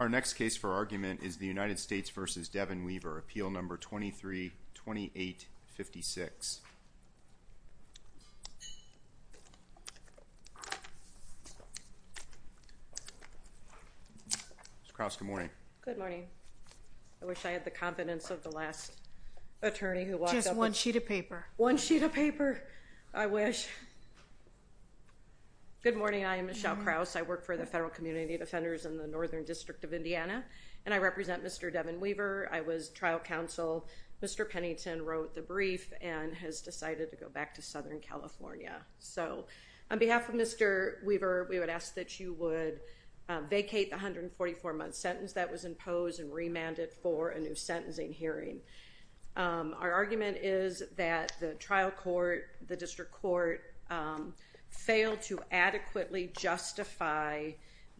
Our next case for argument is the United States v. Devin Weaver, Appeal No. 23-2856. Ms. Krause, good morning. Good morning. I wish I had the confidence of the last attorney who walked up and- Just one sheet of paper. One sheet of paper, I wish. Good morning. I am Michelle Krause. I work for the Federal Community Defenders in the Northern District of Indiana, and I represent Mr. Devin Weaver. I was trial counsel. Mr. Pennington wrote the brief and has decided to go back to Southern California. So, on behalf of Mr. Weaver, we would ask that you would vacate the 144-month sentence that was imposed and remand it for a new sentencing hearing. Our argument is that the trial court, the district court, failed to adequately justify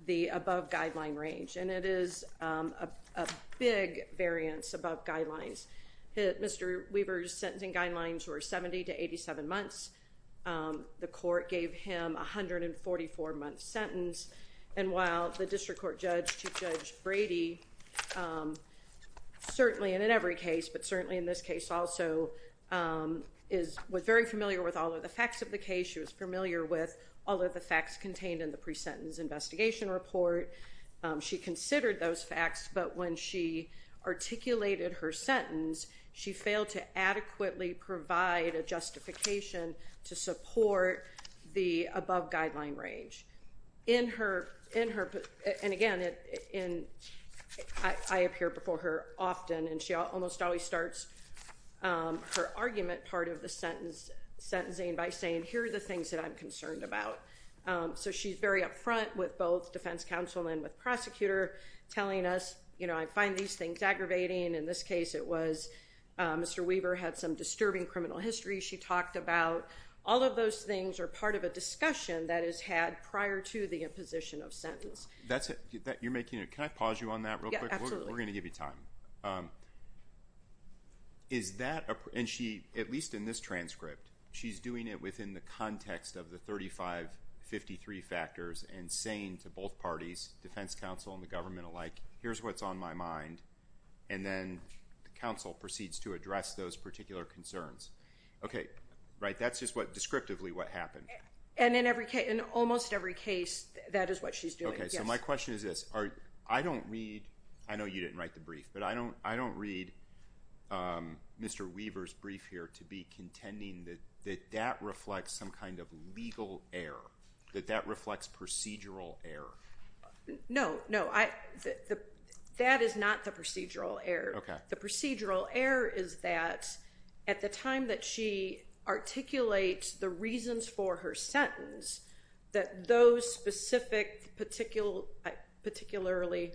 the above-guideline range, and it is a big variance above guidelines. Mr. Weaver's sentencing guidelines were 70 to 87 months. The court gave him a 144-month sentence, and while the district court judge, Chief Judge Brady, certainly in every case, but certainly in this case also, was very familiar with all of the facts of the case. She was familiar with all of the facts contained in the pre-sentence investigation report. She considered those facts, but when she articulated her sentence, she failed to adequately provide a justification to support the above-guideline range. And again, I appear before her often, and she almost always starts her argument part of the sentencing by saying, here are the things that I'm concerned about. So, she's very upfront with both defense counsel and with prosecutor, telling us, you know, I find these things aggravating. In this case, it was Mr. Weaver had some disturbing criminal history. She talked about all of those things are part of a discussion that is had prior to the imposition of sentence. That's it. You're making it. Can I pause you on that real quick? We're going to give you time. Is that a – and she, at least in this transcript, she's doing it within the context of the 3553 factors and saying to both parties, defense counsel and the government alike, here's what's on my mind, and then counsel proceeds to address those particular concerns. Okay. Right. That's just descriptively what happened. And in almost every case, that is what she's doing. Okay. So, my question is this. I don't read – I know you didn't write the brief, but I don't read Mr. Weaver's brief here to be contending that that reflects some kind of legal error, that that reflects procedural error. No. No. That is not the procedural error. Okay. The procedural error is that at the time that she articulates the reasons for her sentence, that those specific particularly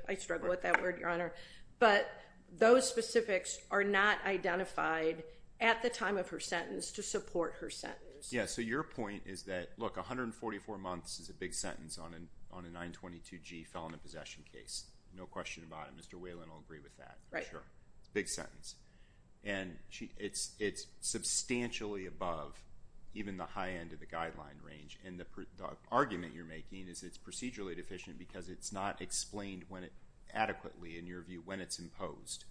– I struggle with that word, Your Honor – but those specifics are not identified at the time of her sentence to support her sentence. Yeah. So, your point is that, look, 144 months is a big sentence on a 922G felon and possession case. No question about it. Mr. Whalen will agree with that. Right. Big sentence. And it's substantially above even the high end of the guideline range. And the argument you're making is it's procedurally deficient because it's not explained adequately, in your view, when it's imposed.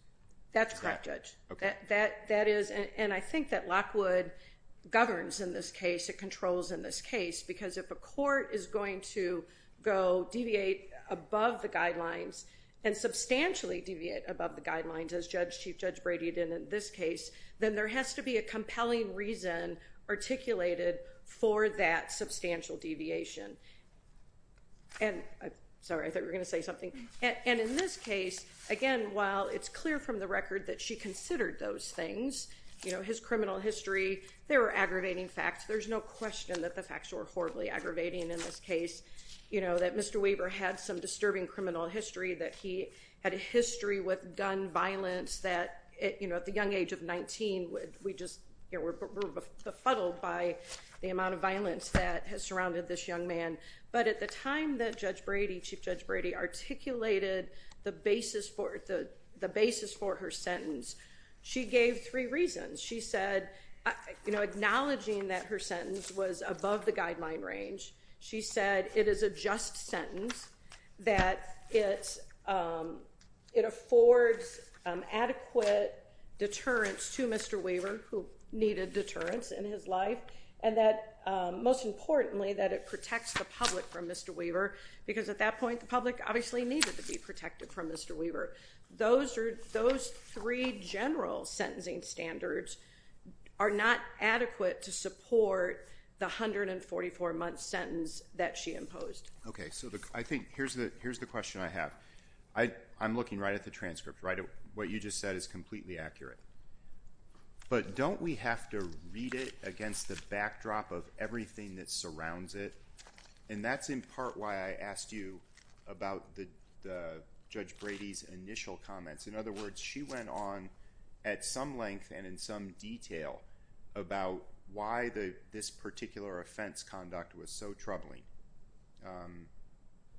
That's correct, Judge. Okay. That is – and I think that Lockwood governs in this case, it controls in this case, because if a court is going to go deviate above the guidelines and substantially deviate above the guidelines, as Chief Judge Brady did in this case, then there has to be a compelling reason articulated for that substantial deviation. And – sorry, I thought you were going to say something. And in this case, again, while it's clear from the record that she considered those things, you know, his criminal history, they were aggravating facts. There's no question that the facts were horribly aggravating in this case. You know, that Mr. Weber had some disturbing criminal history, that he had a history with gun violence that, you know, at the young age of 19, we just were befuddled by the amount of violence that has surrounded this young man. But at the time that Judge Brady, Chief Judge Brady, articulated the basis for her sentence, she gave three reasons. She said, you know, acknowledging that her sentence was above the guideline range, she said it is a just sentence, that it affords adequate deterrence to Mr. Weber, who needed deterrence in his life, and that most importantly, that it protects the public from Mr. Weber, because at that point the public obviously needed to be protected from Mr. Weber. Those three general sentencing standards are not adequate to support the 144-month sentence that she imposed. Okay, so I think here's the question I have. I'm looking right at the transcript, right at what you just said is completely accurate. But don't we have to read it against the backdrop of everything that surrounds it? And that's in part why I asked you about Judge Brady's initial comments. In other words, she went on at some length and in some detail about why this particular offense conduct was so troubling.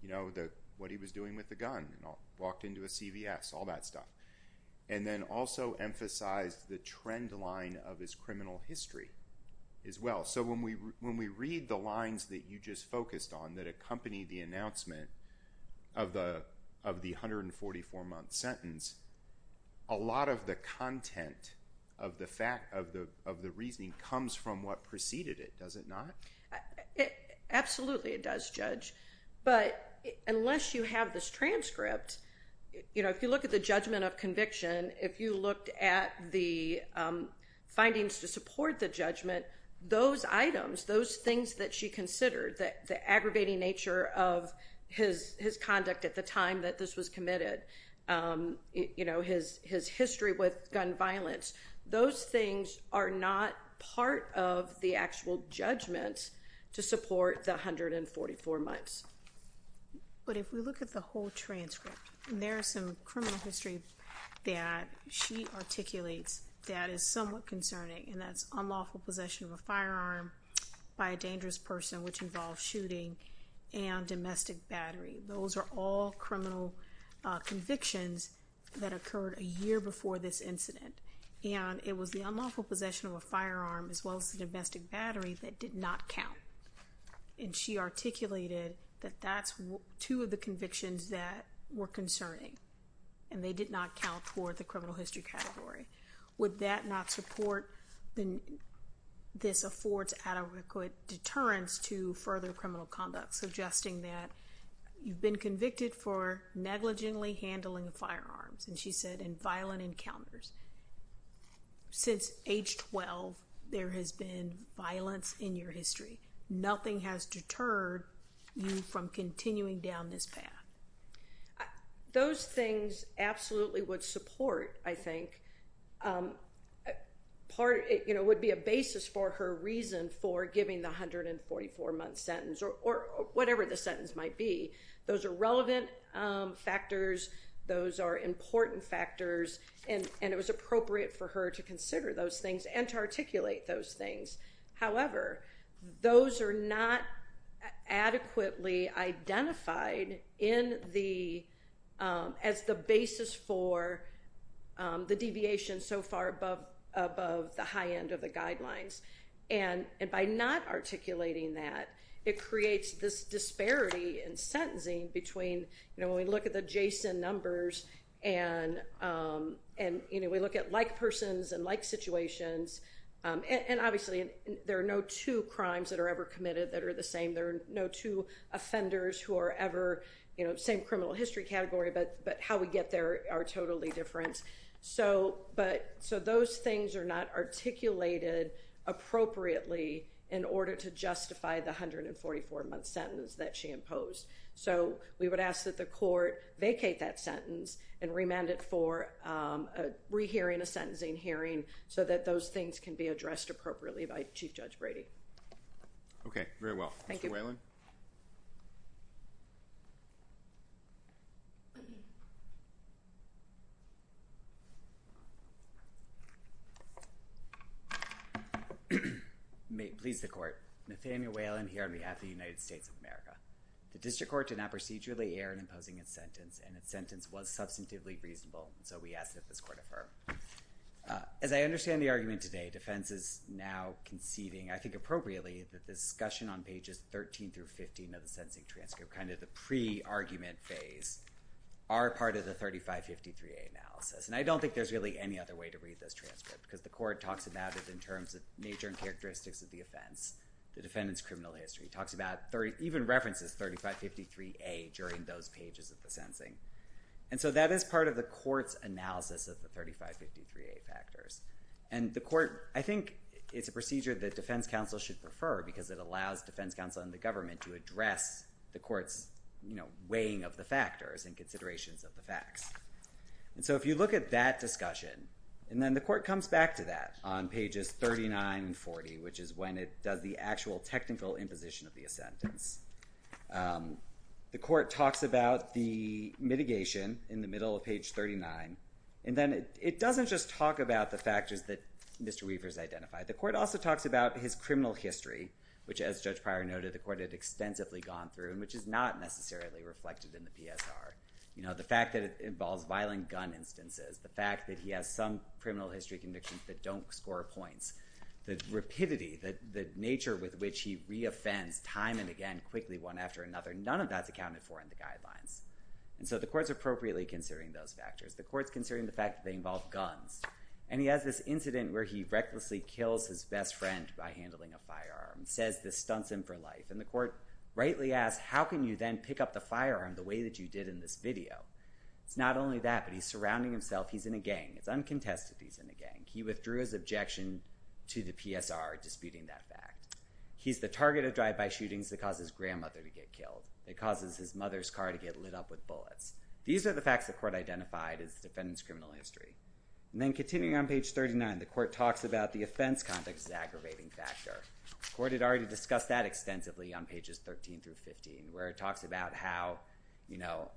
You know, what he was doing with the gun, walked into a CVS, all that stuff. And then also emphasized the trend line of his criminal history as well. So when we read the lines that you just focused on that accompany the announcement of the 144-month sentence, a lot of the content of the reasoning comes from what preceded it, does it not? Absolutely it does, Judge. But unless you have this transcript, you know, if you look at the judgment of conviction, if you looked at the findings to support the judgment, those items, those things that she considered, the aggravating nature of his conduct at the time that this was committed, you know, his history with gun violence, those things are not part of the actual judgment to support the 144 months. But if we look at the whole transcript, there's some criminal history that she articulates that is somewhat concerning, and that's unlawful possession of a firearm by a dangerous person, which involves shooting, and domestic battery. Those are all criminal convictions that occurred a year before this incident. And it was the unlawful possession of a firearm as well as the domestic battery that did not count. And she articulated that that's two of the convictions that were concerning, and they did not count toward the criminal history category. Would that not support this affords adequate deterrence to further criminal conduct, suggesting that you've been convicted for negligently handling firearms, and she said in violent encounters. Since age 12, there has been violence in your history. Nothing has deterred you from continuing down this path. Those things absolutely would support, I think, part, you know, would be a basis for her reason for giving the 144-month sentence, or whatever the sentence might be. Those are relevant factors. Those are important factors. And it was appropriate for her to consider those things and to articulate those things. However, those are not adequately identified as the basis for the deviation so far above the high end of the guidelines. And by not articulating that, it creates this disparity in sentencing between, you know, when we look at the JSON numbers, and, you know, we look at like persons and like situations. And obviously, there are no two crimes that are ever committed that are the same. There are no two offenders who are ever, you know, same criminal history category, but how we get there are totally different. So, those things are not articulated appropriately in order to justify the 144-month sentence that she imposed. So, we would ask that the court vacate that sentence and remand it for a re-hearing, a sentencing hearing, so that those things can be addressed appropriately by Chief Judge Brady. Okay, very well. Thank you. Please, the court. Nathaniel Whalen here on behalf of the United States of America. The district court did not procedurally err in imposing its sentence, and its sentence was substantively reasonable. So, we ask that this court affirm. As I understand the argument today, defense is now conceiving, I think appropriately, that the discussion on pages 13 through 15 of the sentencing transcript, kind of the pre-argument phase, are part of the 3553A analysis. And I don't think there's really any other way to read this transcript, because the court talks about it in terms of nature and characteristics of the offense. The defendant's criminal history talks about, even references 3553A during those pages of the sentencing. And so, that is part of the court's analysis of the 3553A factors. And the court, I think it's a procedure that defense counsel should prefer, because it allows defense counsel and the government to address the court's, you know, weighing of the factors and considerations of the facts. And so, if you look at that discussion, and then the court comes back to that on pages 39 and 40, which is when it does the actual technical imposition of the assentence. The court talks about the mitigation in the middle of page 39. And then, it doesn't just talk about the factors that Mr. Weaver's identified. The court also talks about his criminal history, which, as Judge Pryor noted, the court had extensively gone through, and which is not necessarily reflected in the PSR. You know, the fact that it involves violent gun instances. The fact that he has some criminal history convictions that don't score points. The rapidity, the nature with which he re-offends time and again, quickly, one after another. None of that's accounted for in the guidelines. And so, the court's appropriately considering those factors. The court's considering the fact that they involve guns. And he has this incident where he recklessly kills his best friend by handling a firearm. Says this stunts him for life. And the court rightly asks, how can you then pick up the firearm the way that you did in this video? It's not only that, but he's surrounding himself. He's in a gang. It's uncontested that he's in a gang. He withdrew his objection to the PSR, disputing that fact. He's the target of drive-by shootings that causes his grandmother to get killed. It causes his mother's car to get lit up with bullets. These are the facts the court identified as the defendant's criminal history. And then, continuing on page 39, the court talks about the offense context's aggravating factor. The court had already discussed that extensively on pages 13 through 15, where it talks about how, you know,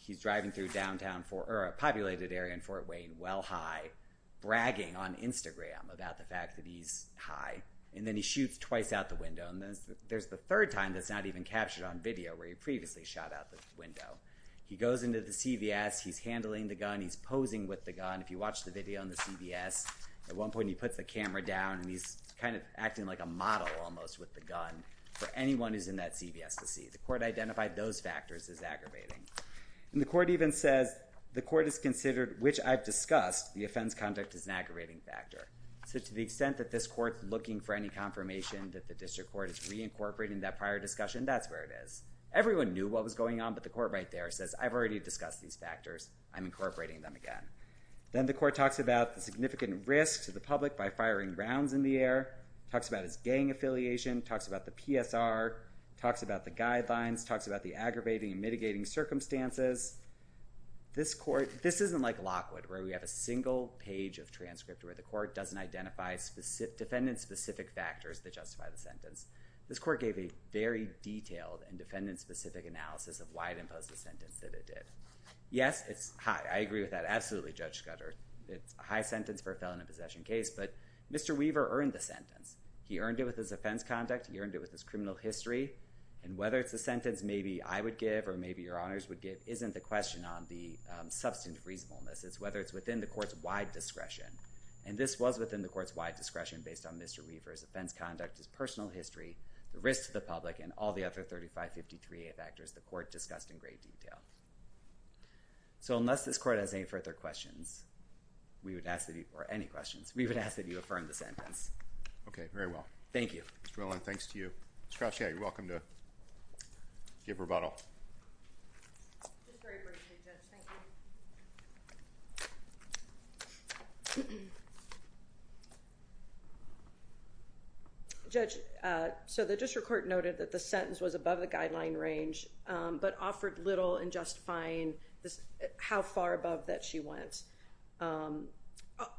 he's driving through a populated area in Fort Wayne, well high, bragging on Instagram about the fact that he's high. And then, he shoots twice out the window. And there's the third time that's not even captured on video, where he previously shot out the window. He goes into the CVS. He's handling the gun. He's posing with the gun. If you watch the video on the CVS, at one point, he puts the camera down, and he's kind of acting like a model almost with the gun for anyone who's in that CVS to see. The court identified those factors as aggravating. And the court even says, the court has considered, which I've discussed, the offense context as an aggravating factor. So, to the extent that this court's looking for any confirmation that the district court is reincorporating that prior discussion, that's where it is. Everyone knew what was going on, but the court right there says, I've already discussed these factors. I'm incorporating them again. Then, the court talks about the significant risk to the public by firing rounds in the air. Talks about his gang affiliation. Talks about the PSR. Talks about the guidelines. Talks about the aggravating and mitigating circumstances. This court, this isn't like Lockwood, where we have a single page of transcript, where the court doesn't identify defendant-specific factors that justify the sentence. This court gave a very detailed and defendant-specific analysis of why it imposed the sentence that it did. Yes, it's high. I agree with that absolutely, Judge Scudder. It's a high sentence for a felon in a possession case. But Mr. Weaver earned the sentence. He earned it with his offense conduct. He earned it with his criminal history. And whether it's the sentence maybe I would give or maybe your honors would give isn't the question on the substantive reasonableness. It's whether it's within the court's wide discretion. And this was within the court's wide discretion based on Mr. Weaver's offense conduct, his personal history, the risk to the public, and all the other 3553A factors the court discussed in great detail. So unless this court has any further questions or any questions, we would ask that you affirm the sentence. Okay. Very well. Thank you. Ms. Dwellin, thanks to you. Ms. Crouch, yeah, you're welcome to give rebuttal. Just very briefly, Judge. Thank you. Judge, so the district court noted that the sentence was above the guideline range but offered little in justifying how far above that she went.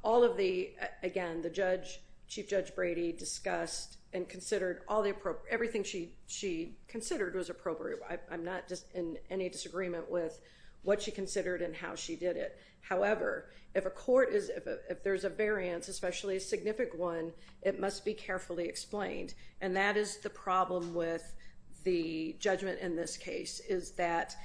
All of the, again, the judge, Chief Judge Brady discussed and considered all the appropriate, everything she considered was appropriate. I'm not just in any disagreement with what she considered and how she did it. However, if a court is, if there's a variance, especially a significant one, it must be carefully explained. And that is the problem with the judgment in this case is that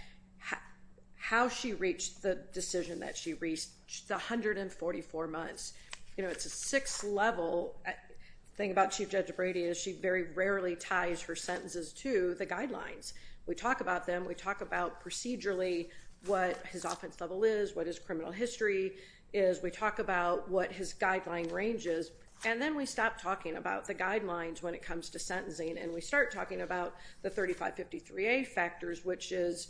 how she reached the decision that she reached, the 144 months. You know, it's a six-level. The thing about Chief Judge Brady is she very rarely ties her sentences to the guidelines. We talk about them. We talk about procedurally what his offense level is, what his criminal history is. We talk about what his guideline range is. And then we stop talking about the guidelines when it comes to sentencing and we start talking about the 3553A factors, which is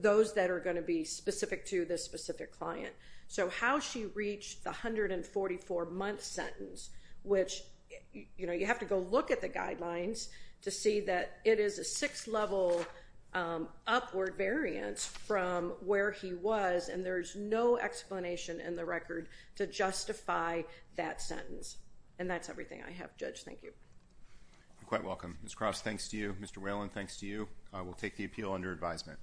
those that are going to be specific to this specific client. So how she reached the 144-month sentence, which, you know, you have to go look at the guidelines to see that it is a six-level upward variance from where he was. And there's no explanation in the record to justify that sentence. And that's everything I have. Judge, thank you. You're quite welcome. Ms. Cross, thanks to you. Mr. Whalen, thanks to you. We'll take the appeal under advisement.